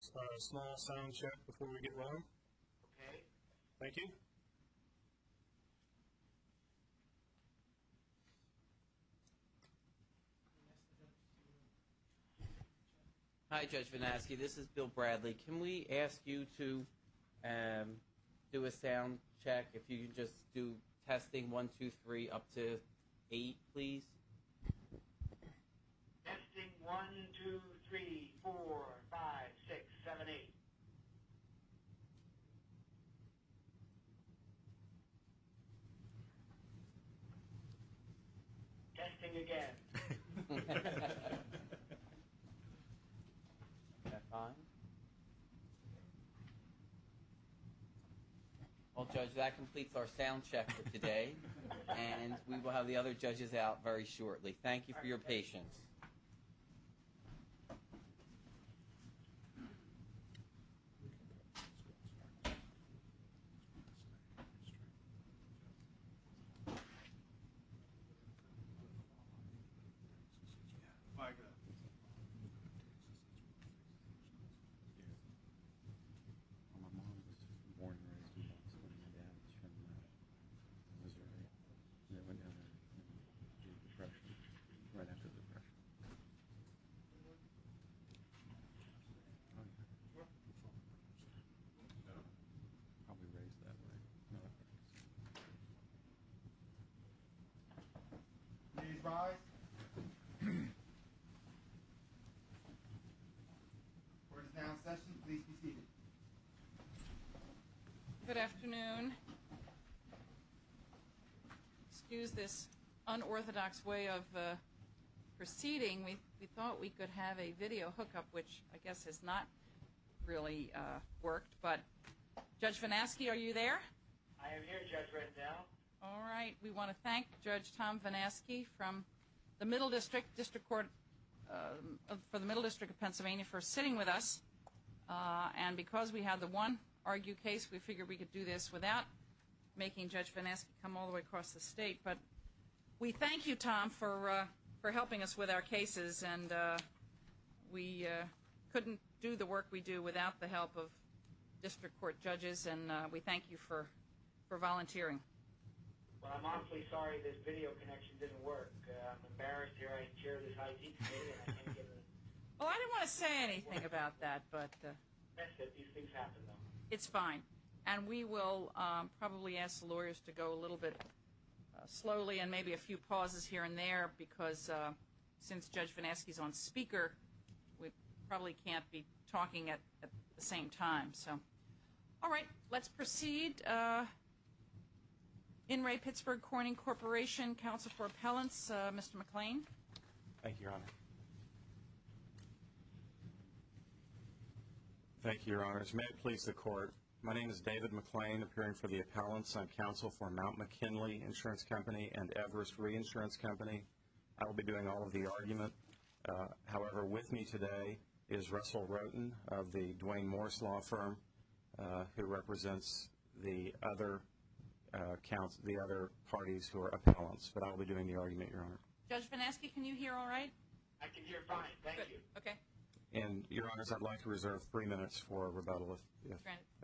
Small, small sound check before we get rolling. Okay. Thank you. Hi Judge Vinasky, this is Bill Bradley. Can we ask you to do a sound check? If you could just do testing 1, 2, 3, up to 8, please. Testing 1, 2, 3, 4, 5, 6, 7, 8. Testing again. Is that fine? Well Judge, that completes our sound check for today. And we will have the other judges out very shortly. Thank you for your patience. Okay. Please rise. We're in sound session, please be seated. Good afternoon. Excuse this unorthodox way of proceeding. We thought we could have a video hookup, which I guess has not really worked. But Judge Vinasky, are you there? I am here, Judge, right now. All right. We want to thank Judge Tom Vinasky from the Middle District, District Court, for the Middle District of Pennsylvania for sitting with us. And because we had the one argue case, we figured we could do this without making Judge Vinasky come all the way across the state. But we thank you, Tom, for helping us with our cases. And we couldn't do the work we do without the help of District Court judges. And we thank you for volunteering. Well, I didn't want to say anything about that. These things happen, though. It's fine. And we will probably ask the lawyers to go a little bit slowly, and maybe a few pauses here and there, because since Judge Vinasky is on speaker, we probably can't be talking at the same time. All right. Let's proceed. In re Pittsburgh Corning Corporation, counsel for appellants, Mr. McClain. Thank you, Your Honor. Thank you, Your Honors. May it please the Court, my name is David McClain, appearing for the appellants. I'm counsel for Mount McKinley Insurance Company and Everest Reinsurance Company. I will be doing all of the argument. However, with me today is Russell Roten of the Duane Morris Law Firm, who represents the other parties who are appellants. But I will be doing the argument, Your Honor. Judge Vinasky, can you hear all right? I can hear fine. Thank you. Okay. And, Your Honors, I'd like to reserve three minutes for rebuttal, if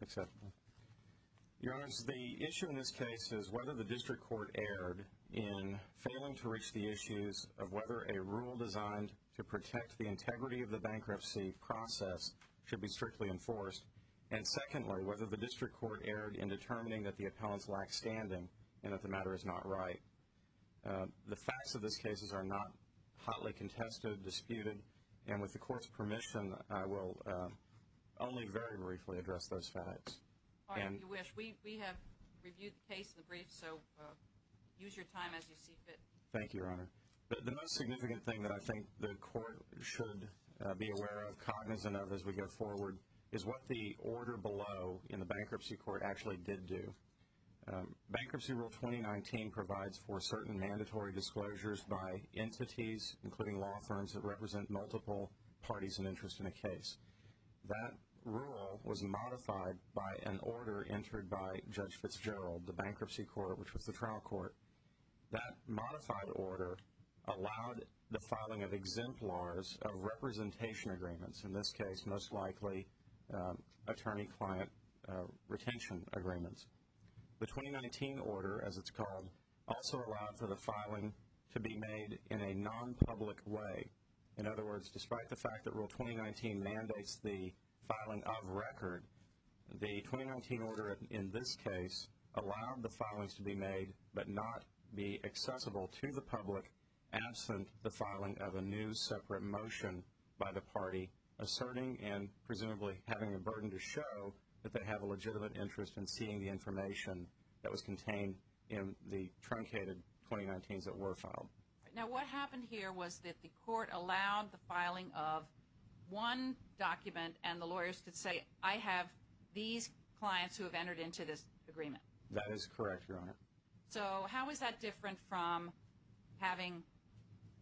acceptable. Your Honors, the issue in this case is whether the district court erred in failing to reach the issues of whether a rule designed to protect the integrity of the bankruptcy process should be strictly enforced, and secondly, whether the district court erred in determining that the appellants lack standing and that the matter is not right. The facts of this case are not hotly contested, disputed, and with the Court's permission I will only very briefly address those facts. All right, if you wish. We have reviewed the case in the brief, so use your time as you see fit. Thank you, Your Honor. The most significant thing that I think the Court should be aware of, cognizant of as we go forward, is what the order below in the bankruptcy court actually did do. Bankruptcy Rule 2019 provides for certain mandatory disclosures by entities, including law firms that represent multiple parties and interests in a case. That rule was modified by an order entered by Judge Fitzgerald, the bankruptcy court, which was the trial court. That modified order allowed the filing of exemplars of representation agreements, in this case most likely attorney-client retention agreements. The 2019 order, as it's called, also allowed for the filing to be made in a non-public way. In other words, despite the fact that Rule 2019 mandates the filing of record, the 2019 order in this case allowed the filings to be made but not be accessible to the public absent the filing of a new separate motion by the party, asserting and presumably having the burden to show that they have a legitimate interest in seeing the information that was contained in the truncated 2019s that were filed. Now, what happened here was that the Court allowed the filing of one document, and the lawyers could say, I have these clients who have entered into this agreement. That is correct, Your Honor. So how is that different from having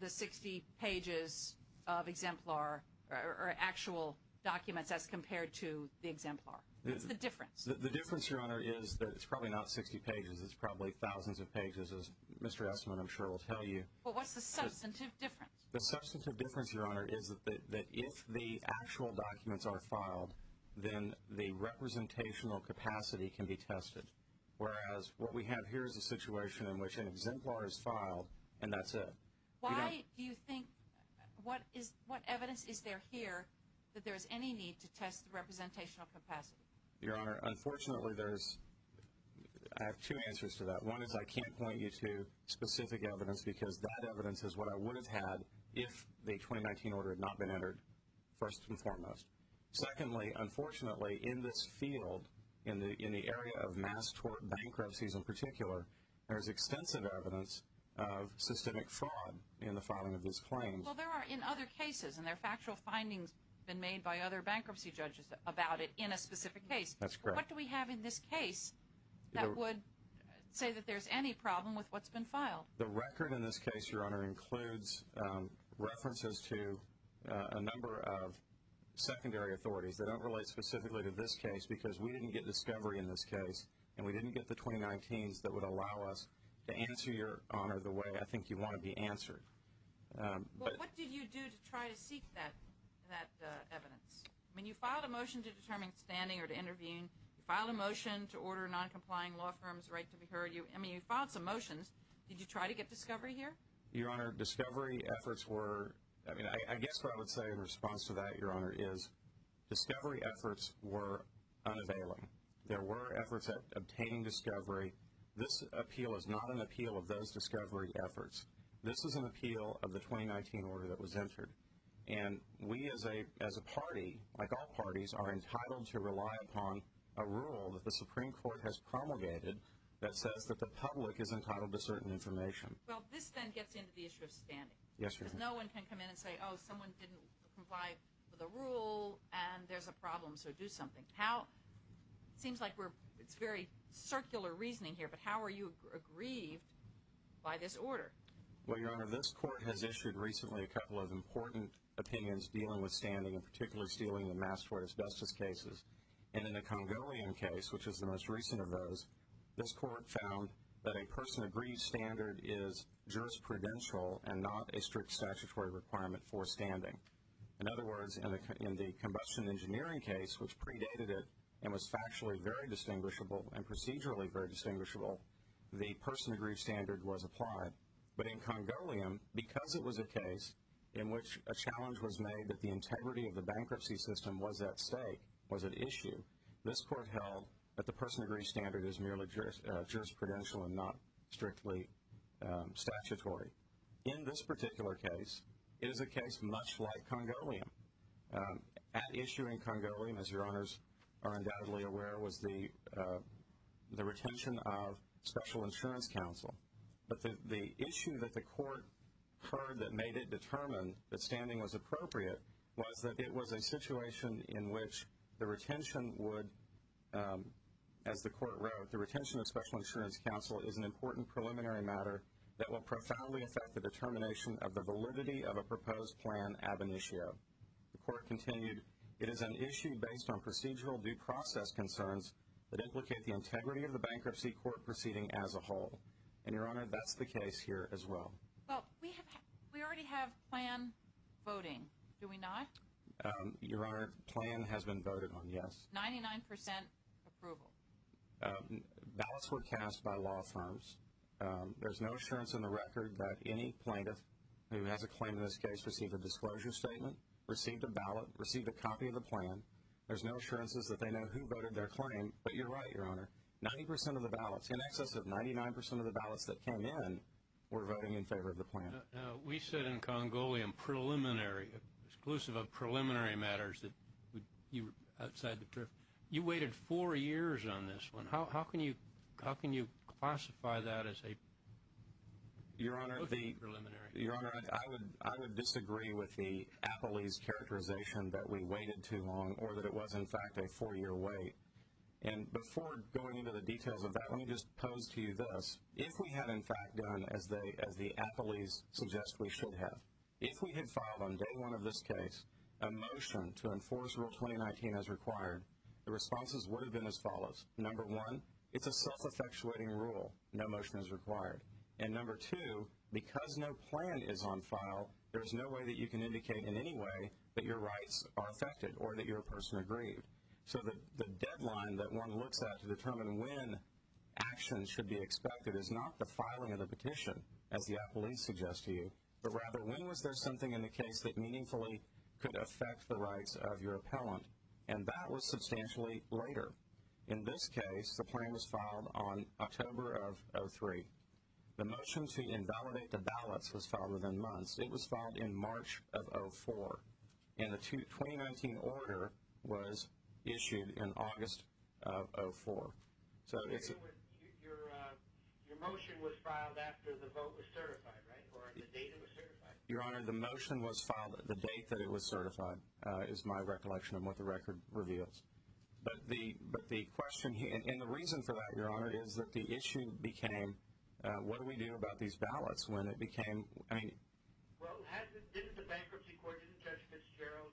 the 60 pages of exemplar or actual documents as compared to the exemplar? What's the difference? The difference, Your Honor, is that it's probably not 60 pages. It's probably thousands of pages, as Mr. Estiman, I'm sure, will tell you. Well, what's the substantive difference? The substantive difference, Your Honor, is that if the actual documents are filed, then the representational capacity can be tested. Whereas what we have here is a situation in which an exemplar is filed, and that's it. Why do you think – what evidence is there here that there is any need to test the representational capacity? Your Honor, unfortunately, there's – I have two answers to that. One is I can't point you to specific evidence because that evidence is what I would have had if the 2019 order had not been entered, first and foremost. Secondly, unfortunately, in this field, in the area of mass tort bankruptcies in particular, there is extensive evidence of systemic fraud in the filing of these claims. Well, there are in other cases, and there are factual findings been made by other bankruptcy judges about it in a specific case. That's correct. What do we have in this case that would say that there's any problem with what's been filed? The record in this case, Your Honor, includes references to a number of secondary authorities that don't relate specifically to this case because we didn't get discovery in this case, and we didn't get the 2019s that would allow us to answer, Your Honor, the way I think you want to be answered. Well, what did you do to try to seek that evidence? I mean, you filed a motion to determine standing or to intervene. You filed a motion to order a noncompliant law firm's right to be heard. I mean, you filed some motions. Did you try to get discovery here? Your Honor, discovery efforts were, I mean, I guess what I would say in response to that, Your Honor, is discovery efforts were unavailing. There were efforts at obtaining discovery. This appeal is not an appeal of those discovery efforts. This is an appeal of the 2019 order that was entered, and we as a party, like all parties, are entitled to rely upon a rule that the Supreme Court has promulgated that says that the public is entitled to certain information. Well, this then gets into the issue of standing. Yes, Your Honor. Because no one can come in and say, oh, someone didn't comply with a rule, and there's a problem, so do something. It seems like it's very circular reasoning here, but how are you aggrieved by this order? Well, Your Honor, this court has issued recently a couple of important opinions dealing with standing and particularly dealing with mass tort asbestos cases. And in the Congolian case, which is the most recent of those, this court found that a person-agreed standard is jurisprudential and not a strict statutory requirement for standing. In other words, in the combustion engineering case, which predated it and was factually very distinguishable and procedurally very distinguishable, the person-agreed standard was applied. But in Congolian, because it was a case in which a challenge was made that the integrity of the bankruptcy system was at stake, was at issue, this court held that the person-agreed standard is merely jurisprudential and not strictly statutory. In this particular case, it is a case much like Congolian. At issue in Congolian, as Your Honors are undoubtedly aware, was the retention of special insurance counsel. But the issue that the court heard that made it determine that standing was appropriate was that it was a situation in which the retention would, as the court wrote, the retention of special insurance counsel is an important preliminary matter that will profoundly affect the determination of the validity of a proposed plan ab initio. The court continued, it is an issue based on procedural due process concerns that implicate the integrity of the bankruptcy court proceeding as a whole. And, Your Honor, that's the case here as well. Well, we already have plan voting, do we not? Your Honor, plan has been voted on, yes. Ninety-nine percent approval. Ballots were cast by law firms. There's no assurance in the record that any plaintiff who has a claim in this case received a disclosure statement, received a ballot, received a copy of the plan. There's no assurances that they know who voted their claim. But you're right, Your Honor. Ninety percent of the ballots, in excess of 99 percent of the ballots that came in, were voting in favor of the plan. Now, we said in Congolian preliminary, exclusive of preliminary matters, that you were outside the drift. You waited four years on this one. How can you classify that as a voting preliminary? Your Honor, I would disagree with the appellee's characterization that we waited too long or that it was, in fact, a four-year wait. And before going into the details of that, let me just pose to you this. If we had, in fact, done as the appellees suggest we should have, if we had filed on day one of this case a motion to enforce Rule 2019 as required, the responses would have been as follows. Number one, it's a self-effectuating rule. No motion is required. And number two, because no plan is on file, there's no way that you can indicate in any way that your rights are affected or that your person agreed. So the deadline that one looks at to determine when action should be expected is not the filing of the petition, as the appellees suggest to you, but rather when was there something in the case that meaningfully could affect the rights of your appellant. And that was substantially later. In this case, the plan was filed on October of 2003. The motion to invalidate the ballots was filed within months. It was filed in March of 2004. And the 2019 order was issued in August of 2004. Your motion was filed after the vote was certified, right, or the date it was certified? Your Honor, the motion was filed at the date that it was certified, is my recollection of what the record reveals. But the question here, and the reason for that, Your Honor, is that the issue became, what do we do about these ballots when it became, I mean. Well, didn't the Bankruptcy Court, didn't Judge Fitzgerald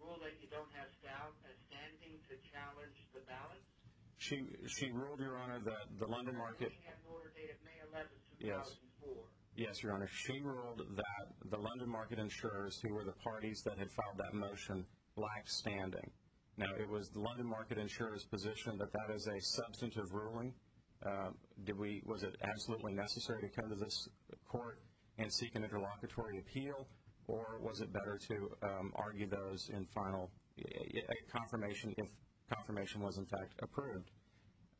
rule that you don't have staff standing to challenge the ballots? She ruled, Your Honor, that the London Market. At May 11, 2004. Yes, Your Honor. She ruled that the London Market insurers, who were the parties that had filed that motion, lacked standing. Now, it was the London Market insurer's position that that is a substantive ruling. Was it absolutely necessary to come to this court and seek an interlocutory appeal, or was it better to argue those in final confirmation if confirmation was, in fact, approved?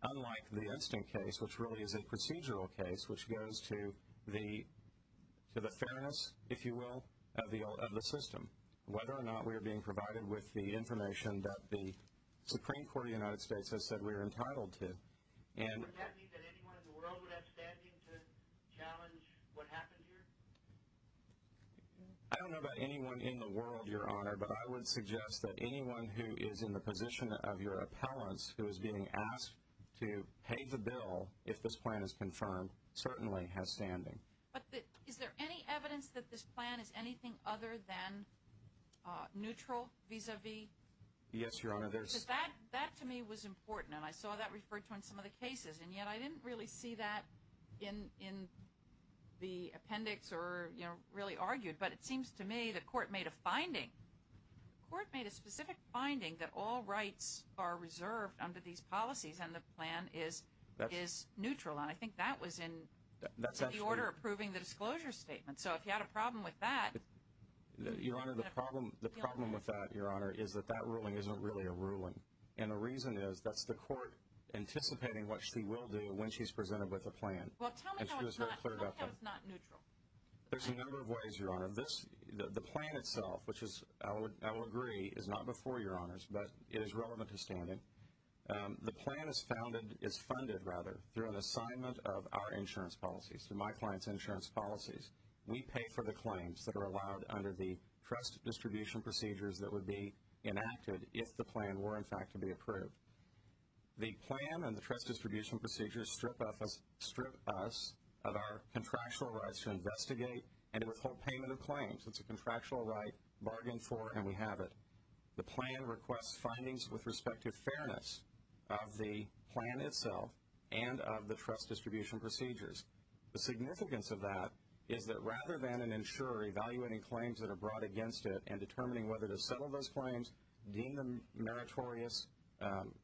Unlike the instant case, which really is a procedural case, which goes to the fairness, if you will, of the system. Whether or not we are being provided with the information that the Supreme Court of the United States has said we are entitled to. Would that mean that anyone in the world would have standing to challenge what happened here? I don't know about anyone in the world, Your Honor, but I would suggest that anyone who is in the position of your appellants, who is being asked to pay the bill if this plan is confirmed, certainly has standing. But is there any evidence that this plan is anything other than neutral vis-a-vis? Yes, Your Honor. That, to me, was important, and I saw that referred to in some of the cases, and yet I didn't really see that in the appendix or really argued. But it seems to me the court made a finding. The court made a specific finding that all rights are reserved under these policies and the plan is neutral, and I think that was in the order approving the disclosure statement. So if you had a problem with that. Your Honor, the problem with that, Your Honor, is that that ruling isn't really a ruling, and the reason is that's the court anticipating what she will do when she's presented with a plan. Well, tell me how it's not neutral. There's a number of ways, Your Honor. The plan itself, which I would agree is not before Your Honors, but it is relevant to standing. The plan is funded through an assignment of our insurance policies, my client's insurance policies. We pay for the claims that are allowed under the trust distribution procedures that would be enacted if the plan were, in fact, to be approved. The plan and the trust distribution procedures strip us of our contractual rights to investigate and to withhold payment of claims. It's a contractual right, bargain for, and we have it. The plan requests findings with respect to fairness of the plan itself and of the trust distribution procedures. The significance of that is that rather than an insurer evaluating claims that are brought against it and determining whether to settle those claims, deem them meritorious,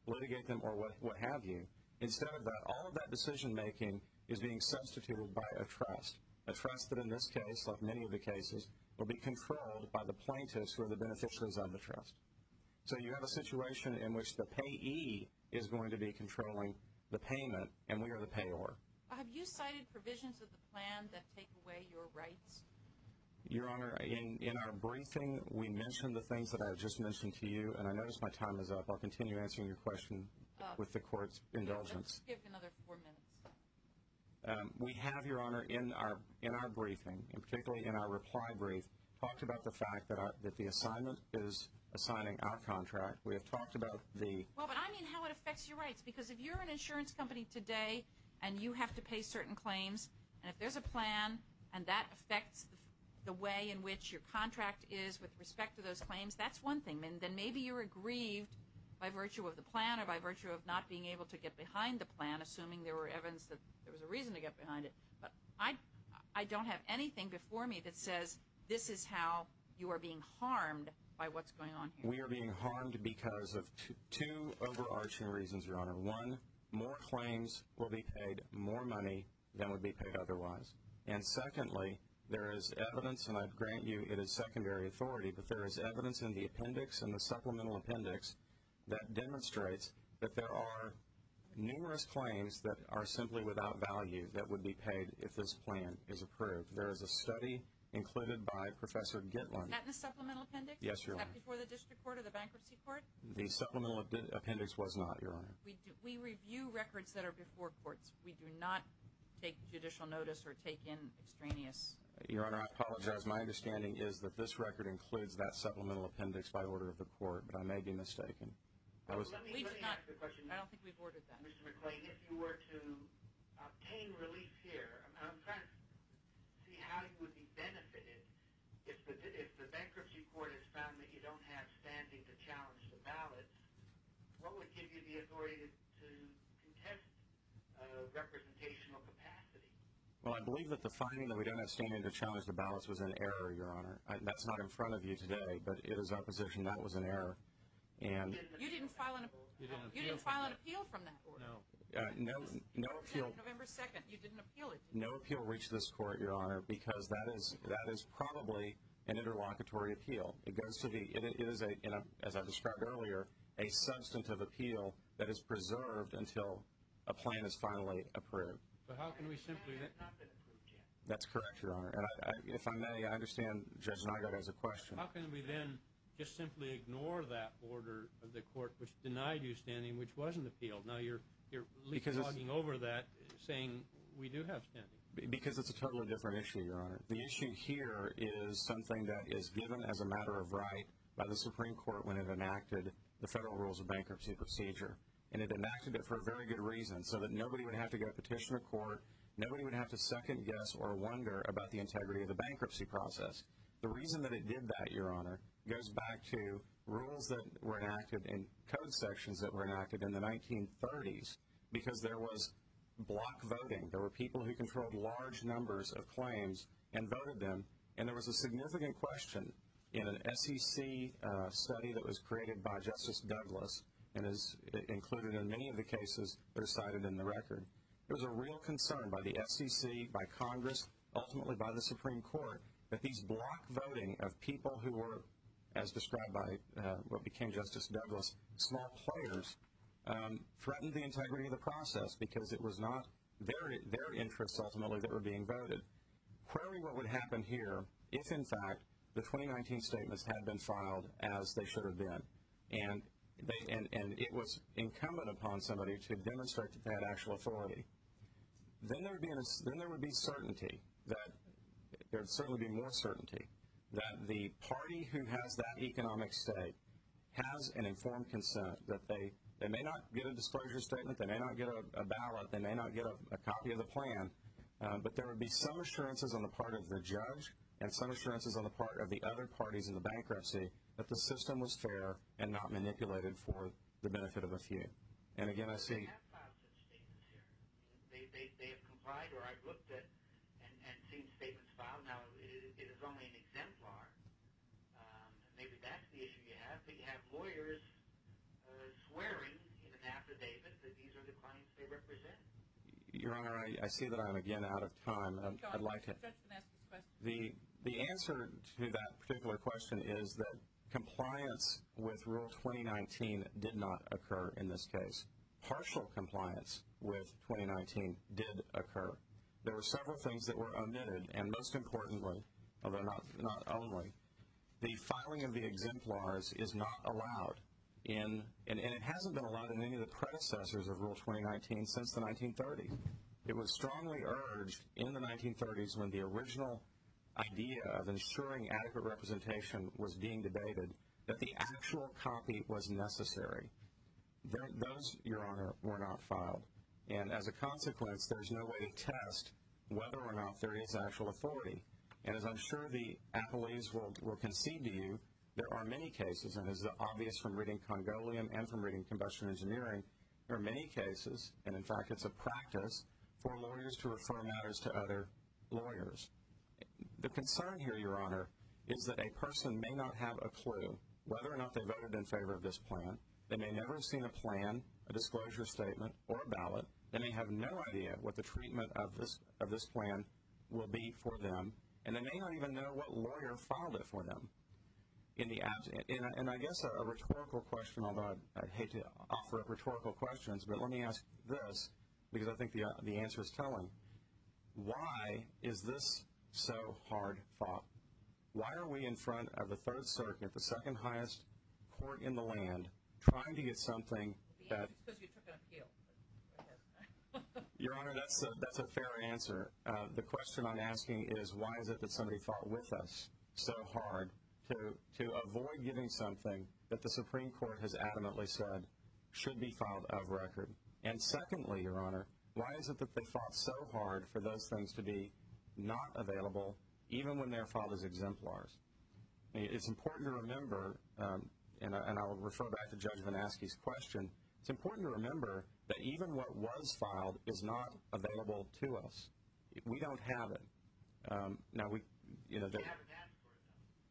litigate them, or what have you, instead of that, all of that decision-making is being substituted by a trust, a trust that in this case, like many of the cases, will be controlled by the plaintiffs who are the beneficiaries of the trust. So you have a situation in which the payee is going to be controlling the payment, and we are the payor. Have you cited provisions of the plan that take away your rights? Your Honor, in our briefing, we mentioned the things that I just mentioned to you, and I notice my time is up. I'll continue answering your question with the Court's indulgence. Let's give another four minutes. We have, Your Honor, in our briefing, and particularly in our reply brief, talked about the fact that the assignment is assigning our contract. We have talked about the... Well, but I mean how it affects your rights, because if you're an insurance company today and you have to pay certain claims, and if there's a plan and that affects the way in which your contract is with respect to those claims, that's one thing. Then maybe you're aggrieved by virtue of the plan or by virtue of not being able to get behind the plan, assuming there was evidence that there was a reason to get behind it. But I don't have anything before me that says this is how you are being harmed by what's going on here. One, more claims will be paid, more money than would be paid otherwise. And secondly, there is evidence, and I grant you it is secondary authority, but there is evidence in the appendix, in the supplemental appendix, that demonstrates that there are numerous claims that are simply without value that would be paid if this plan is approved. There is a study included by Professor Gitlin. Was that in the supplemental appendix? Yes, Your Honor. Was that before the District Court or the Bankruptcy Court? The supplemental appendix was not, Your Honor. We review records that are before courts. We do not take judicial notice or take in extraneous records. Your Honor, I apologize. My understanding is that this record includes that supplemental appendix by order of the court, but I may be mistaken. We do not. I don't think we've ordered that. Mr. McClain, if you were to obtain relief here, I'm trying to see how you would be benefited if the Bankruptcy Court has found that you don't have standing to challenge the ballots, what would give you the authority to contest representational capacity? Well, I believe that the finding that we don't have standing to challenge the ballots was an error, Your Honor. That's not in front of you today, but it is our position that was an error. You didn't file an appeal from that court? No. No appeal reached this court, Your Honor, because that is probably an interlocutory appeal. It is, as I described earlier, a substantive appeal that is preserved until a plan is finally approved. But how can we simply… It has not been approved yet. That's correct, Your Honor. If I may, I understand Judge Nygut has a question. How can we then just simply ignore that order of the court which denied you standing, which wasn't appealed? Now you're leapfrogging over that, saying we do have standing. Because it's a totally different issue, Your Honor. The issue here is something that is given as a matter of right by the Supreme Court when it enacted the Federal Rules of Bankruptcy Procedure. And it enacted it for a very good reason, so that nobody would have to go petition a court, nobody would have to second-guess or wonder about the integrity of the bankruptcy process. The reason that it did that, Your Honor, goes back to rules that were enacted and code sections that were enacted in the 1930s because there was block voting. There were people who controlled large numbers of claims and voted them. And there was a significant question in an SEC study that was created by Justice Douglas and is included in many of the cases that are cited in the record. There was a real concern by the SEC, by Congress, ultimately by the Supreme Court, that these block voting of people who were, as described by what became Justice Douglas, small players, threatened the integrity of the process because it was not their interests, ultimately, that were being voted. Query what would happen here if, in fact, the 2019 statements had been filed as they should have been and it was incumbent upon somebody to demonstrate that actual authority. Then there would be certainty, there would certainly be more certainty, that the party who has that economic stake has an informed consent, that they may not get a disclosure statement, they may not get a ballot, they may not get a copy of the plan, but there would be some assurances on the part of the judge and some assurances on the part of the other parties in the bankruptcy that the system was fair and not manipulated for the benefit of a few. They have filed such statements here. They have complied, or I've looked at and seen statements filed. Now, it is only an exemplar. Maybe that's the issue you have. But you have lawyers swearing in an affidavit that these are the clients they represent. Your Honor, I see that I am again out of time. The answer to that particular question is that compliance with Rule 2019 did not occur in this case. Partial compliance with 2019 did occur. There were several things that were omitted, and most importantly, although not only, the filing of the exemplars is not allowed in, and it hasn't been allowed in any of the predecessors of Rule 2019 since the 1930s. It was strongly urged in the 1930s when the original idea of ensuring adequate representation was being debated, that the actual copy was necessary. Those, Your Honor, were not filed. And as a consequence, there's no way to test whether or not there is actual authority. And as I'm sure the appellees will concede to you, there are many cases, and as is obvious from reading Congolian and from reading combustion engineering, there are many cases, and in fact it's a practice for lawyers to refer matters to other lawyers. The concern here, Your Honor, is that a person may not have a clue whether or not they voted in favor of this plan. They may never have seen a plan, a disclosure statement, or a ballot. They may have no idea what the treatment of this plan will be for them, and they may not even know what lawyer filed it for them. And I guess a rhetorical question, although I'd hate to offer up rhetorical questions, but let me ask this because I think the answer is telling. Why is this so hard fought? Why are we in front of the Third Circuit, the second highest court in the land, trying to get something that The answer is because you took an appeal. Your Honor, that's a fair answer. The question I'm asking is why is it that somebody fought with us so hard to avoid getting something that the Supreme Court has adamantly said should be filed of record? And secondly, Your Honor, why is it that they fought so hard for those things to be not available even when they're filed as exemplars? It's important to remember, and I'll refer back to Judge VanAskey's question, it's important to remember that even what was filed is not available to us. We don't have it. Now,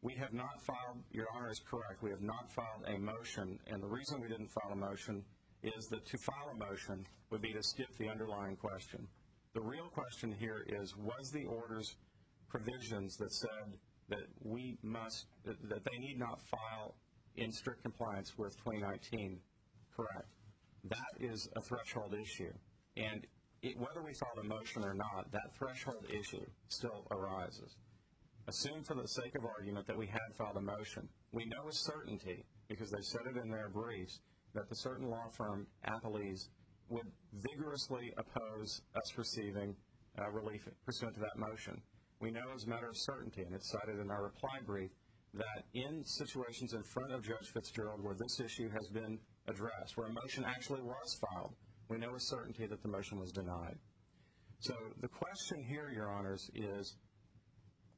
we have not filed, Your Honor is correct, we have not filed a motion, and the reason we didn't file a motion is that to file a motion would be to skip the underlying question. The real question here is was the order's provisions that said that we must, that they need not file in strict compliance with 2019 correct? That is a threshold issue, and whether we filed a motion or not, that threshold issue still arises. Assume for the sake of argument that we had filed a motion. We know with certainty, because they said it in their briefs, that the certain law firm, would vigorously oppose us receiving relief pursuant to that motion. We know as a matter of certainty, and it's cited in our reply brief, that in situations in front of Judge Fitzgerald where this issue has been addressed, where a motion actually was filed, we know with certainty that the motion was denied. So the question here, Your Honors, is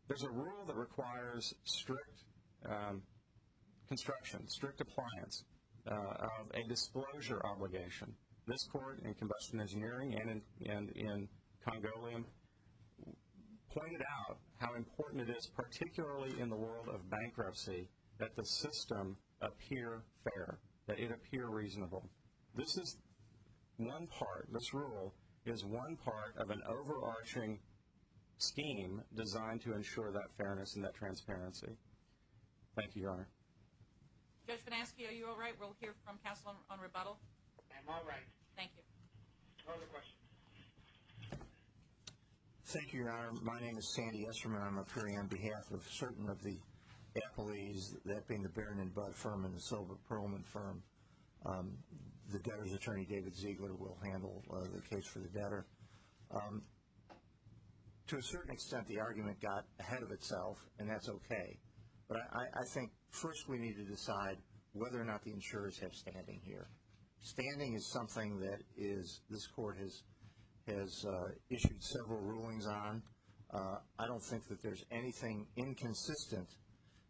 there's a rule that requires strict construction, strict appliance of a disclosure obligation. This court in Combustion Engineering and in Congolian pointed out how important it is, particularly in the world of bankruptcy, that the system appear fair, that it appear reasonable. This is one part, this rule is one part of an overarching scheme designed to ensure that fairness and that transparency. Thank you, Your Honor. Judge Van Aske, are you all right? We'll hear from counsel on rebuttal. I'm all right. Thank you. No other questions. Thank you, Your Honor. My name is Sandy Esserman. I'm up here on behalf of certain of the employees, that being the Baron and Budd firm and the Silver Perlman firm. The debtor's attorney, David Ziegler, will handle the case for the debtor. To a certain extent, the argument got ahead of itself, and that's okay. But I think first we need to decide whether or not the insurers have standing here. Standing is something that this court has issued several rulings on. I don't think that there's anything inconsistent.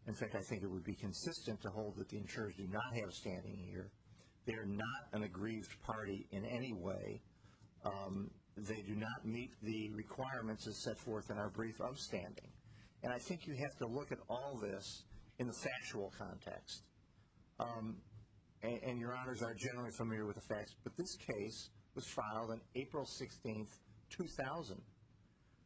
In fact, I think it would be consistent to hold that the insurers do not have standing here. They're not an aggrieved party in any way. They do not meet the requirements as set forth in our brief of standing. And I think you have to look at all this in the factual context. And Your Honors are generally familiar with the facts. But this case was filed on April 16, 2000.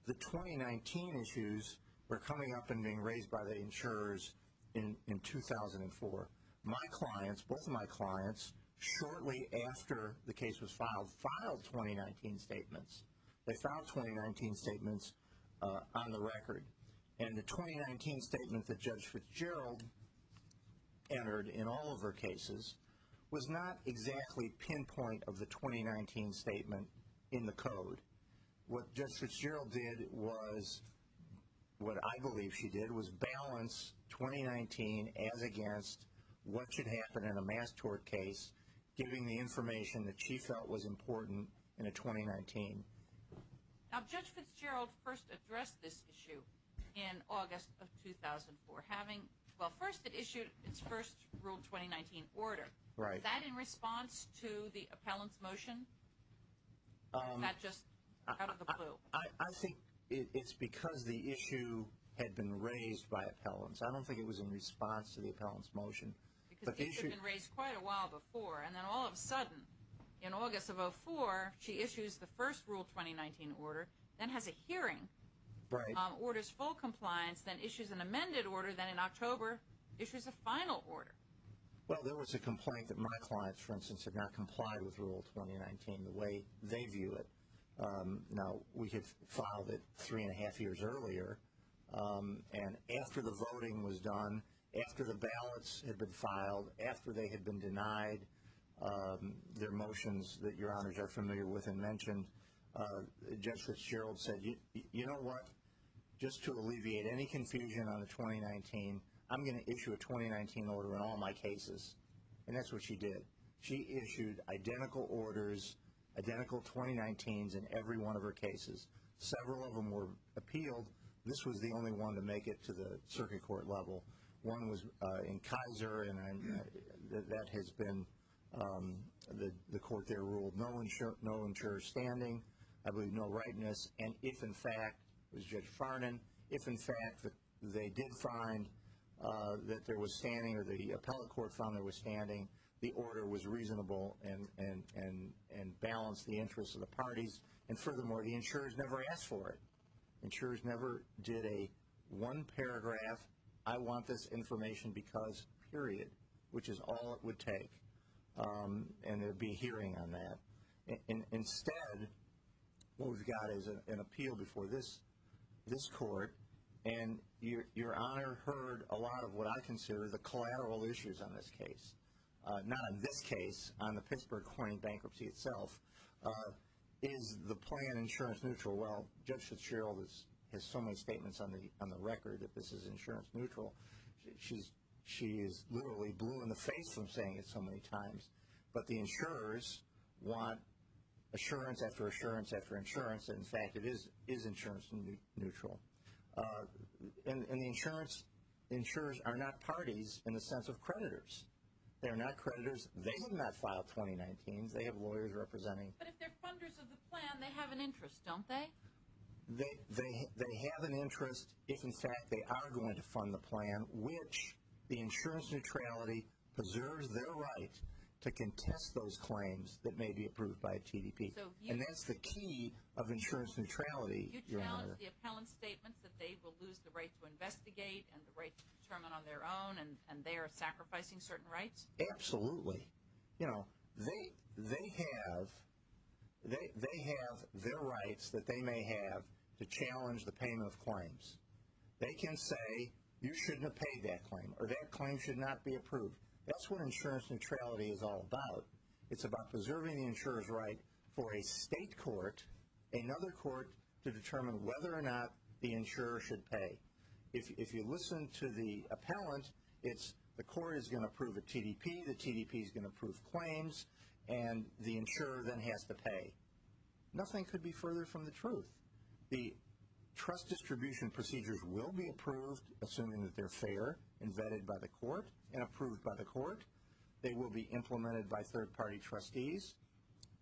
The 2019 issues were coming up and being raised by the insurers in 2004. My clients, both of my clients, shortly after the case was filed, filed 2019 statements. They filed 2019 statements on the record. And the 2019 statement that Judge Fitzgerald entered in all of her cases was not exactly pinpoint of the 2019 statement in the code. What Judge Fitzgerald did was, what I believe she did, was balance 2019 as against what should happen in a mass tort case, giving the information that she felt was important in a 2019. Now, Judge Fitzgerald first addressed this issue in August of 2004, having, well, first it issued its first ruled 2019 order. Was that in response to the appellant's motion? Or was that just out of the blue? I think it's because the issue had been raised by appellants. I don't think it was in response to the appellant's motion. Because the issue had been raised quite a while before. And then all of a sudden, in August of 2004, she issues the first ruled 2019 order, then has a hearing, orders full compliance, then issues an amended order, then in October issues a final order. Well, there was a complaint that my clients, for instance, had not complied with ruled 2019 the way they view it. Now, we had filed it three and a half years earlier. And after the voting was done, after the ballots had been filed, after they had been denied their motions that your honors are familiar with and mentioned, Judge Fitzgerald said, you know what, just to alleviate any confusion on the 2019, I'm going to issue a 2019 order in all my cases. And that's what she did. She issued identical orders, identical 2019s in every one of her cases. Several of them were appealed. This was the only one to make it to the circuit court level. One was in Kaiser, and that has been the court there ruled no insured standing, I believe no rightness. And if in fact, it was Judge Farnan, if in fact they did find that there was standing or the appellate court found there was standing, the order was reasonable and balanced the interests of the parties. And furthermore, the insurers never asked for it. Insurers never did a one paragraph, I want this information because, period, which is all it would take. And there would be a hearing on that. Instead, what we've got is an appeal before this court, and Your Honor heard a lot of what I consider the collateral issues on this case. Not on this case, on the Pittsburgh coin bankruptcy itself. Is the plan insurance neutral? Well, Judge Fitzgerald has so many statements on the record that this is insurance neutral. She is literally blue in the face from saying it so many times. But the insurers want assurance after assurance after insurance. In fact, it is insurance neutral. And the insurers are not parties in the sense of creditors. They are not creditors. They did not file 2019s. They have lawyers representing. But if they're funders of the plan, they have an interest, don't they? They have an interest if in fact they are going to fund the plan, in which the insurance neutrality preserves their right to contest those claims that may be approved by a TDP. And that's the key of insurance neutrality, Your Honor. You challenge the appellant's statements that they will lose the right to investigate and the right to determine on their own, and they are sacrificing certain rights? Absolutely. You know, they have their rights that they may have to challenge the payment of claims. They can say you shouldn't have paid that claim or that claim should not be approved. That's what insurance neutrality is all about. It's about preserving the insurer's right for a state court, another court, to determine whether or not the insurer should pay. If you listen to the appellant, it's the court is going to approve a TDP, the TDP is going to approve claims, and the insurer then has to pay. Nothing could be further from the truth. The trust distribution procedures will be approved, assuming that they're fair and vetted by the court and approved by the court. They will be implemented by third-party trustees.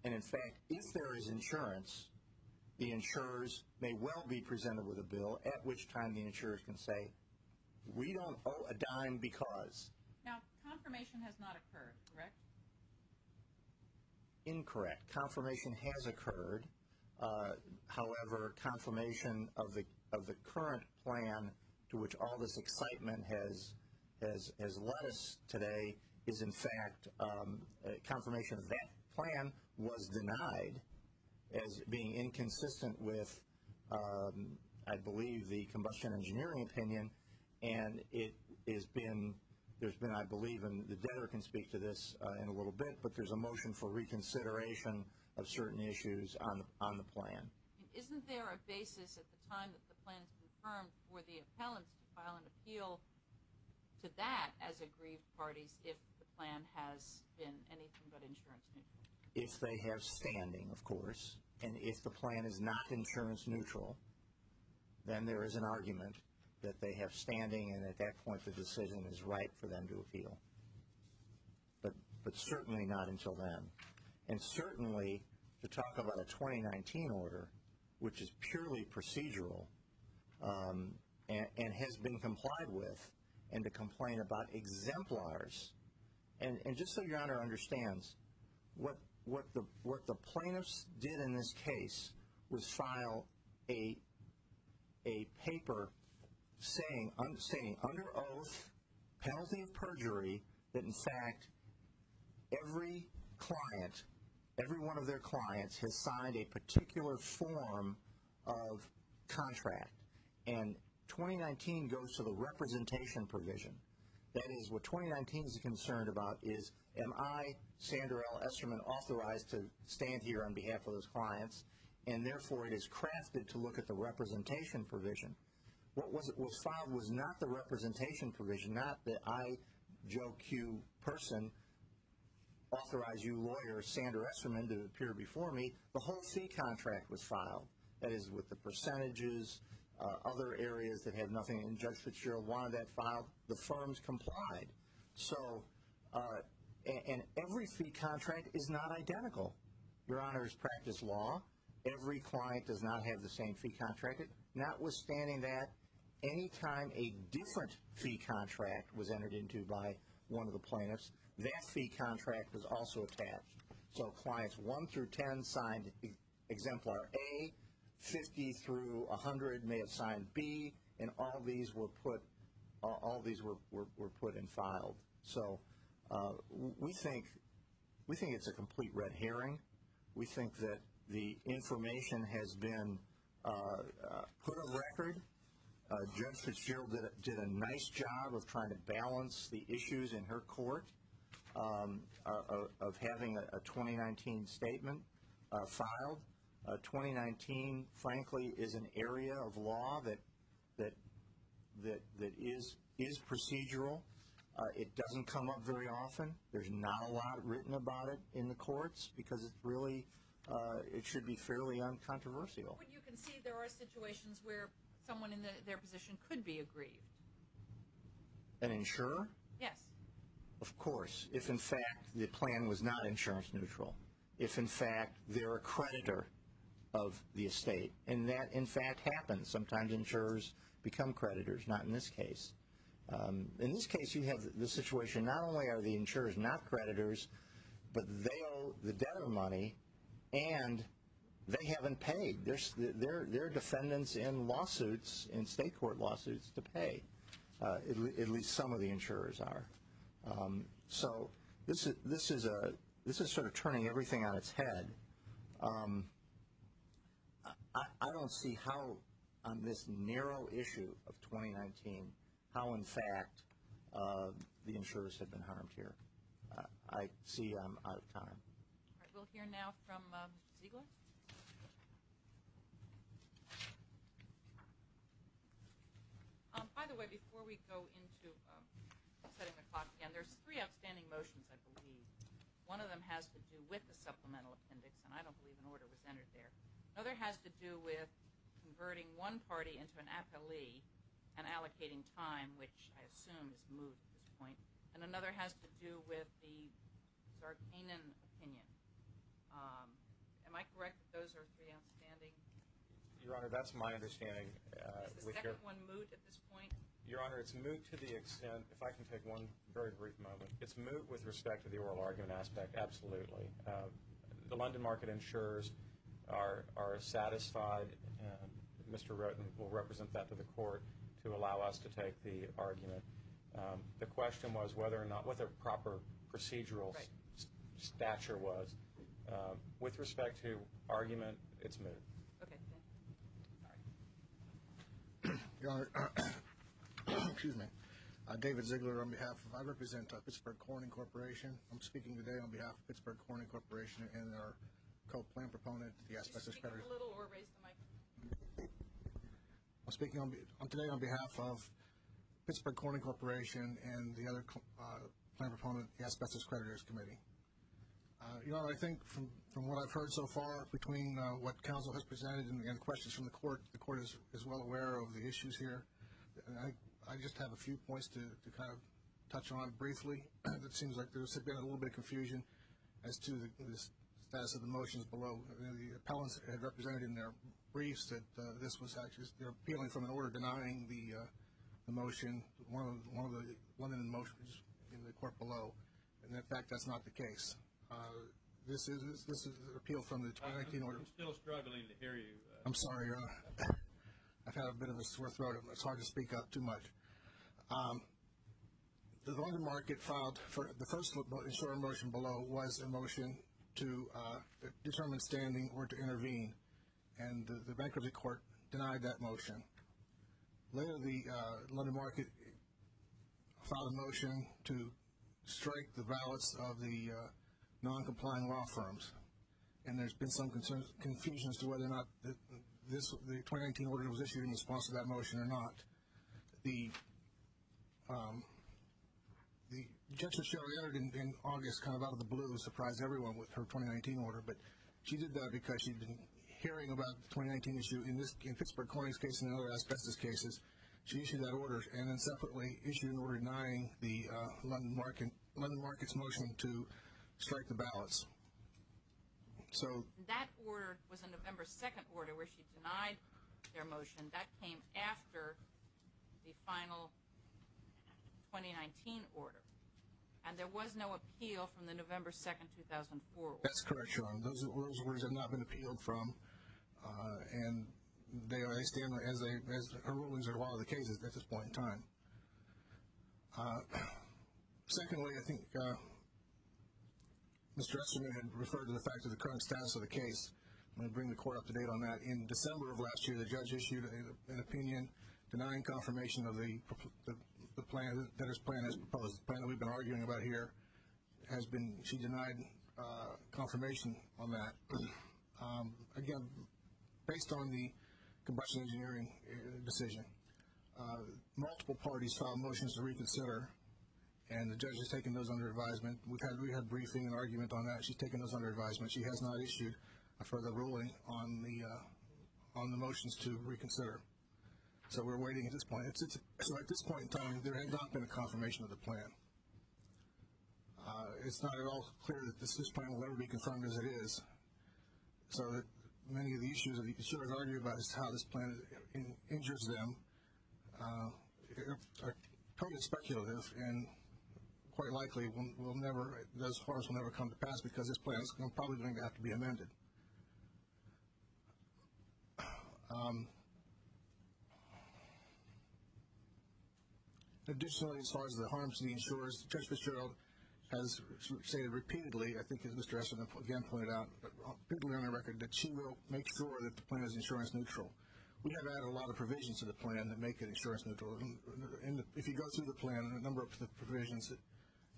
And, in fact, if there is insurance, the insurers may well be presented with a bill at which time the insurers can say we don't owe a dime because. Now, confirmation has not occurred, correct? Incorrect. Confirmation has occurred. However, confirmation of the current plan to which all this excitement has led us today is, in fact, confirmation of that plan was denied as being inconsistent with, I believe, the combustion engineering opinion. And it has been, there's been, I believe, and the debtor can speak to this in a little bit, but there's a motion for reconsideration of certain issues on the plan. Isn't there a basis at the time that the plan is confirmed for the appellants to file an appeal to that as agreed parties if the plan has been anything but insurance neutral? If they have standing, of course. And if the plan is not insurance neutral, then there is an argument that they have standing, and at that point the decision is right for them to appeal. But certainly not until then. And certainly to talk about a 2019 order, which is purely procedural and has been complied with, and to complain about exemplars. And just so Your Honor understands, what the plaintiffs did in this case was file a paper saying, under oath, penalty of perjury, that in fact every client, every one of their clients, has signed a particular form of contract. And 2019 goes to the representation provision. That is, what 2019 is concerned about is, am I, Sandra L. Esterman, authorized to stand here on behalf of those clients, and therefore it is crafted to look at the representation provision. What was filed was not the representation provision, not the I, Joe Q. person, authorize you, lawyer, Sandra Esterman, to appear before me. The whole fee contract was filed. That is, with the percentages, other areas that have nothing, and Judge Fitzgerald wanted that filed, the firms complied. So, and every fee contract is not identical. Your Honor has practiced law. Every client does not have the same fee contracted. Notwithstanding that, any time a different fee contract was entered into by one of the plaintiffs, that fee contract is also attached. So clients 1 through 10 signed exemplar A, 50 through 100 may have signed B, and all these were put in file. So we think it's a complete red herring. We think that the information has been put on record. Judge Fitzgerald did a nice job of trying to balance the issues in her court of having a 2019 statement filed. 2019, frankly, is an area of law that is procedural. It doesn't come up very often. There's not a lot written about it in the courts because it's really, it should be fairly uncontroversial. But you can see there are situations where someone in their position could be aggrieved. An insurer? Of course, if, in fact, the plan was not insurance neutral. If, in fact, they're a creditor of the estate, and that, in fact, happens. Sometimes insurers become creditors, not in this case. In this case, you have the situation not only are the insurers not creditors, but they owe the debtor money, and they haven't paid. They're defendants in lawsuits, in state court lawsuits, to pay. At least some of the insurers are. So this is sort of turning everything on its head. I don't see how, on this narrow issue of 2019, how, in fact, the insurers have been harmed here. I see I'm out of time. All right. We'll hear now from Ziegler. By the way, before we go into setting the clock again, there's three outstanding motions, I believe. One of them has to do with the Supplemental Appendix, and I don't believe an order was entered there. Another has to do with converting one party into an appellee and allocating time, which I assume is moot at this point. And another has to do with the Zarkanian opinion. Am I correct that those are three outstanding? Your Honor, that's my understanding. Is the second one moot at this point? Your Honor, it's moot to the extent, if I can take one very brief moment. It's moot with respect to the oral argument aspect, absolutely. The London market insurers are satisfied. Mr. Roten will represent that to the Court to allow us to take the argument. The question was whether or not, what the proper procedural stature was. With respect to argument, it's moot. Okay. All right. Your Honor, excuse me. David Ziegler on behalf of, I represent Pittsburgh Corning Corporation. I'm speaking today on behalf of Pittsburgh Corning Corporation and our co-plan proponent, the Asbestos Creditors Committee. Could you speak up a little or raise the mic? I'm speaking today on behalf of Pittsburgh Corning Corporation and the other plan proponent, the Asbestos Creditors Committee. Your Honor, I think from what I've heard so far between what counsel has presented and, again, questions from the Court, the Court is well aware of the issues here. I just have a few points to kind of touch on briefly. It seems like there's been a little bit of confusion as to the status of the motions below. The appellants had represented in their briefs that this was actually, they're appealing from an order denying the motion, one of the motions in the Court below. And, in fact, that's not the case. This is an appeal from the 2019 order. I'm still struggling to hear you. I'm sorry, Your Honor. I've had a bit of a sore throat. It's hard to speak up too much. The London Market filed, the first motion below was a motion to determine standing or to intervene, and the Bankruptcy Court denied that motion. Later, the London Market filed a motion to strike the ballots of the non-complying law firms, and there's been some confusion as to whether or not the 2019 order was issued in response to that motion or not. The objection she already entered in August, kind of out of the blue, surprised everyone with her 2019 order, but she did that because she'd been hearing about the 2019 issue. In Pittsburgh Corning's case and other asbestos cases, she issued that order, and then separately issued an order denying the London Market's motion to strike the ballots. That order was a November 2nd order where she denied their motion. That came after the final 2019 order, and there was no appeal from the November 2nd, 2004 order. That's correct, Your Honor. Those orders have not been appealed from, and they stand as rulings in a lot of the cases at this point in time. Secondly, I think Mr. Esterman had referred to the fact of the current status of the case. I'm going to bring the court up to date on that. In December of last year, the judge issued an opinion denying confirmation of the plan, the plan that we've been arguing about here. She denied confirmation on that. Again, based on the combustion engineering decision, multiple parties filed motions to reconsider, and the judge has taken those under advisement. We had briefing and argument on that. She's taken those under advisement. She has not issued a further ruling on the motions to reconsider. So we're waiting at this point. So at this point in time, there has not been a confirmation of the plan. It's not at all clear that this plan will ever be confirmed as it is. So many of the issues that you should have argued about is how this plan injures them are totally speculative, and quite likely will never, thus far, will never come to pass because this plan is probably going to have to be amended. Additionally, as far as the harms to the insurers, Judge Fitzgerald has stated repeatedly, I think as Mr. Esselstyn again pointed out publicly on the record, that she will make sure that the plan is insurance neutral. We have added a lot of provisions to the plan that make it insurance neutral. If you go through the plan and a number of the provisions,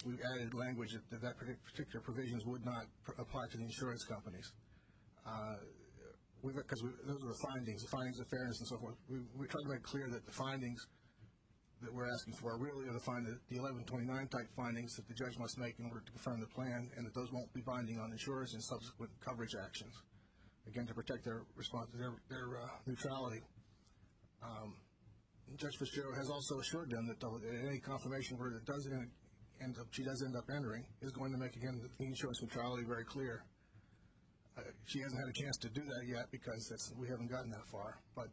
we've added language that that particular provision would not apply to the insurance companies, because those are the findings, the findings of fairness and so forth. We try to make clear that the findings that we're asking for are really going to find the 1129-type findings that the judge must make in order to confirm the plan, and that those won't be binding on insurers and subsequent coverage actions, again, to protect their response to their neutrality. Judge Fitzgerald has also assured them that any confirmation that she does end up entering is going to make, again, the insurance neutrality very clear. She hasn't had a chance to do that yet because we haven't gotten that far. But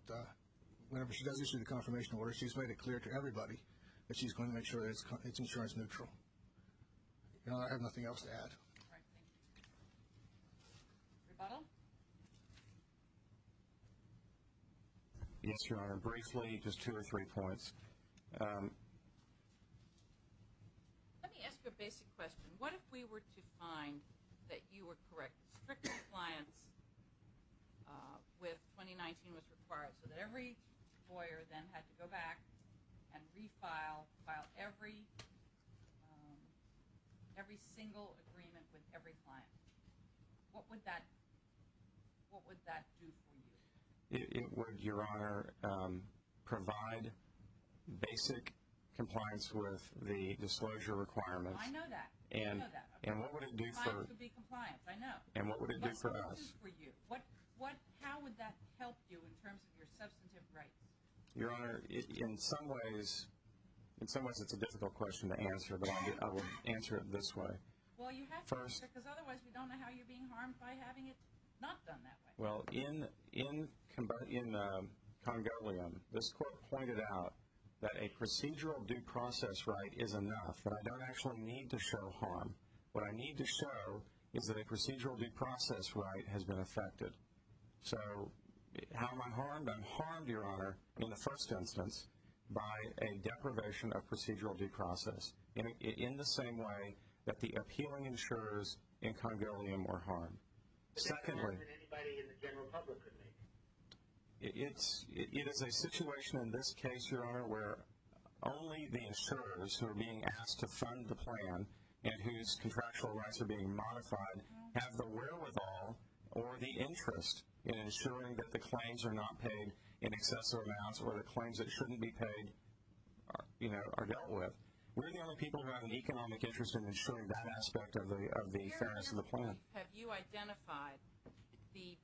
whenever she does issue the confirmation order, she's made it clear to everybody that she's going to make sure that it's insurance neutral. I have nothing else to add. All right. Thank you. Rebuttal? Yes, Your Honor. Briefly, just two or three points. Let me ask you a basic question. What if we were to find that you were correct, that strict compliance with 2019 was required so that every lawyer then had to go back and refile every single agreement with every client? What would that do for you? It would, Your Honor, provide basic compliance with the disclosure requirements. I know that. I know that. Compliance would be compliance. I know. And what would it do for us? What would it do for you? How would that help you in terms of your substantive rights? Your Honor, in some ways it's a difficult question to answer, but I will answer it this way. Well, you have to answer it because otherwise we don't know how you're being harmed by having it not done that way. Well, in Congolium, this court pointed out that a procedural due process right is enough, but I don't actually need to show harm. What I need to show is that a procedural due process right has been affected. So how am I harmed? I'm harmed, Your Honor, in the first instance by a deprivation of procedural due process, in the same way that the appealing insurers in Congolium were harmed. But that's a harm that anybody in the general public could make. It is a situation in this case, Your Honor, where only the insurers who are being asked to fund the plan and whose contractual rights are being modified have the wherewithal or the interest in ensuring that the claims are not paid in excessive amounts or the claims that shouldn't be paid are dealt with. We're the only people who have an economic interest in ensuring that aspect of the fairness of the plan. Your Honor, have you identified the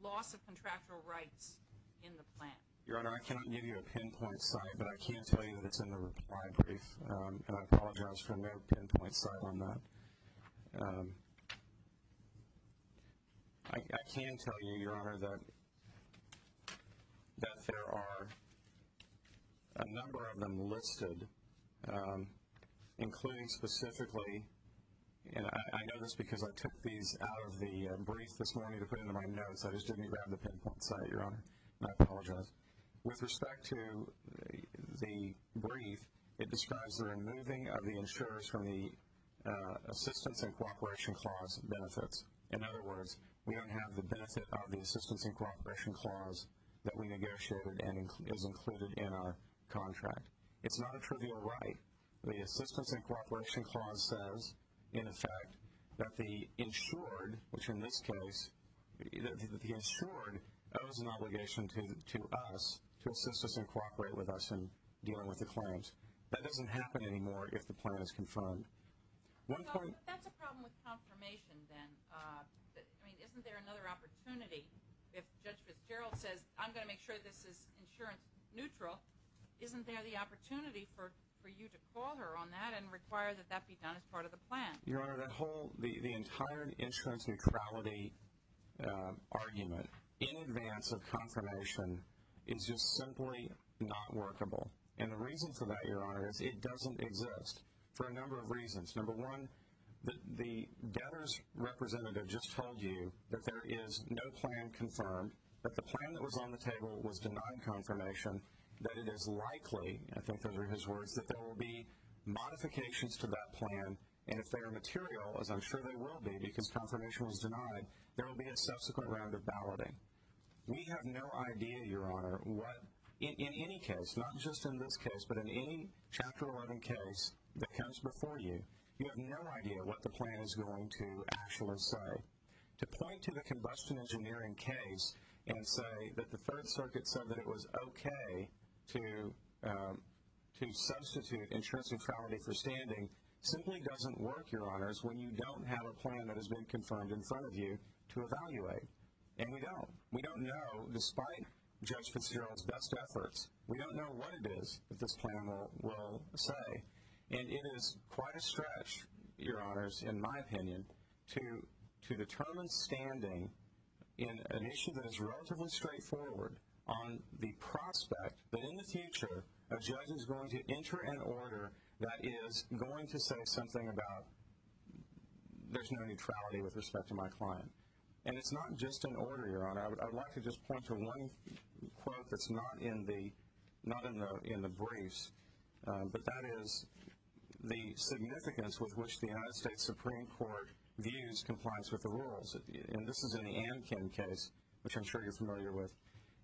loss of contractual rights in the plan? Your Honor, I cannot give you a pinpoint site, but I can tell you that it's in the reply brief, and I apologize for no pinpoint site on that. I can tell you, Your Honor, that there are a number of them listed, including specifically, and I know this because I took these out of the brief this morning to put into my notes. I just didn't grab the pinpoint site, Your Honor, and I apologize. With respect to the brief, it describes the removing of the insurers from the Assistance in Cooperation Clause benefits. In other words, we don't have the benefit of the Assistance in Cooperation Clause that we negotiated and is included in our contract. It's not a trivial right. The Assistance in Cooperation Clause says, in effect, that the insured, which in this case, that the insured owes an obligation to us to assist us and cooperate with us in dealing with the claims. That doesn't happen anymore if the plan is confirmed. That's a problem with confirmation then. I mean, isn't there another opportunity if Judge Fitzgerald says, I'm going to make sure this is insurance neutral, isn't there the opportunity for you to call her on that and require that that be done as part of the plan? Your Honor, the entire insurance neutrality argument in advance of confirmation is just simply not workable. And the reason for that, Your Honor, is it doesn't exist for a number of reasons. Number one, the debtors representative just told you that there is no plan confirmed, that the plan that was on the table was denied confirmation, that it is likely, I think under his words, that there will be modifications to that plan, and if they are material, as I'm sure they will be because confirmation was denied, there will be a subsequent round of balloting. We have no idea, Your Honor, what in any case, not just in this case, but in any Chapter 11 case that comes before you, you have no idea what the plan is going to actually say. To point to the combustion engineering case and say that the Third Circuit said that it was okay to substitute insurance neutrality for standing simply doesn't work, Your Honors, when you don't have a plan that has been confirmed in front of you to evaluate. And we don't. We don't know, despite Judge Fitzgerald's best efforts, we don't know what it is that this plan will say. And it is quite a stretch, Your Honors, in my opinion, to determine standing in an issue that is relatively straightforward on the prospect that in the future a judge is going to enter an order that is going to say something about there's no neutrality with respect to my client. And it's not just an order, Your Honor. I would like to just point to one quote that's not in the briefs, but that is the significance with which the United States Supreme Court views compliance with the rules. And this is in the Ankin case, which I'm sure you're familiar with.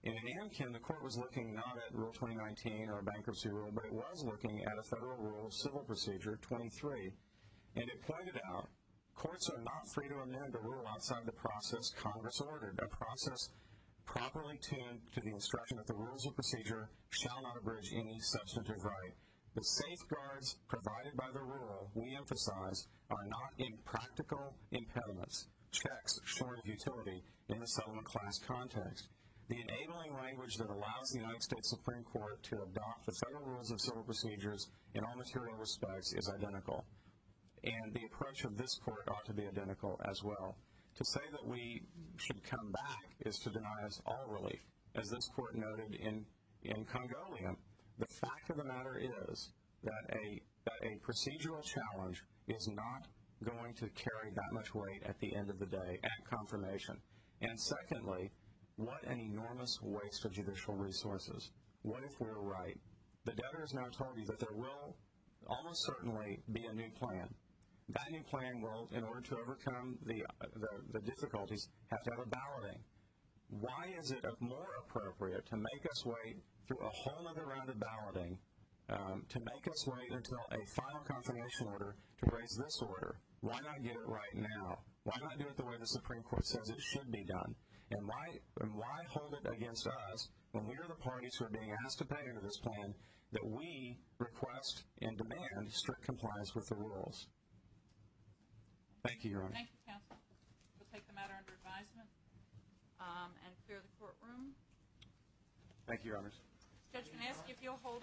In Ankin, the court was looking not at Rule 2019 or a bankruptcy rule, but it was looking at a federal rule, Civil Procedure 23, and it pointed out, courts are not free to amend a rule outside of the process Congress ordered. A process properly tuned to the instruction that the rules of procedure shall not abridge any substantive right. The safeguards provided by the rule, we emphasize, are not impractical impediments, checks short of utility in the settlement class context. The enabling language that allows the United States Supreme Court to adopt the federal rules of civil procedures in all material respects is identical. And the approach of this court ought to be identical as well. To say that we should come back is to deny us all relief. As this court noted in Congolian, the fact of the matter is that a procedural challenge is not going to carry that much weight at the end of the day at confirmation. And secondly, what an enormous waste of judicial resources. What if we're right? The debtor has now told you that there will almost certainly be a new plan. That new plan will, in order to overcome the difficulties, have to have a balloting. Why is it more appropriate to make us wait through a whole other round of balloting, to make us wait until a final confirmation order to raise this order? Why not get it right now? Why not do it the way the Supreme Court says it should be done? And why hold it against us, when we are the parties who are being asked to pay under this plan, that we request and demand strict compliance with the rules? Thank you, Your Honors. Thank you, Counsel. We'll take the matter under advisement and clear the courtroom. Thank you, Your Honors. If you'll hold on.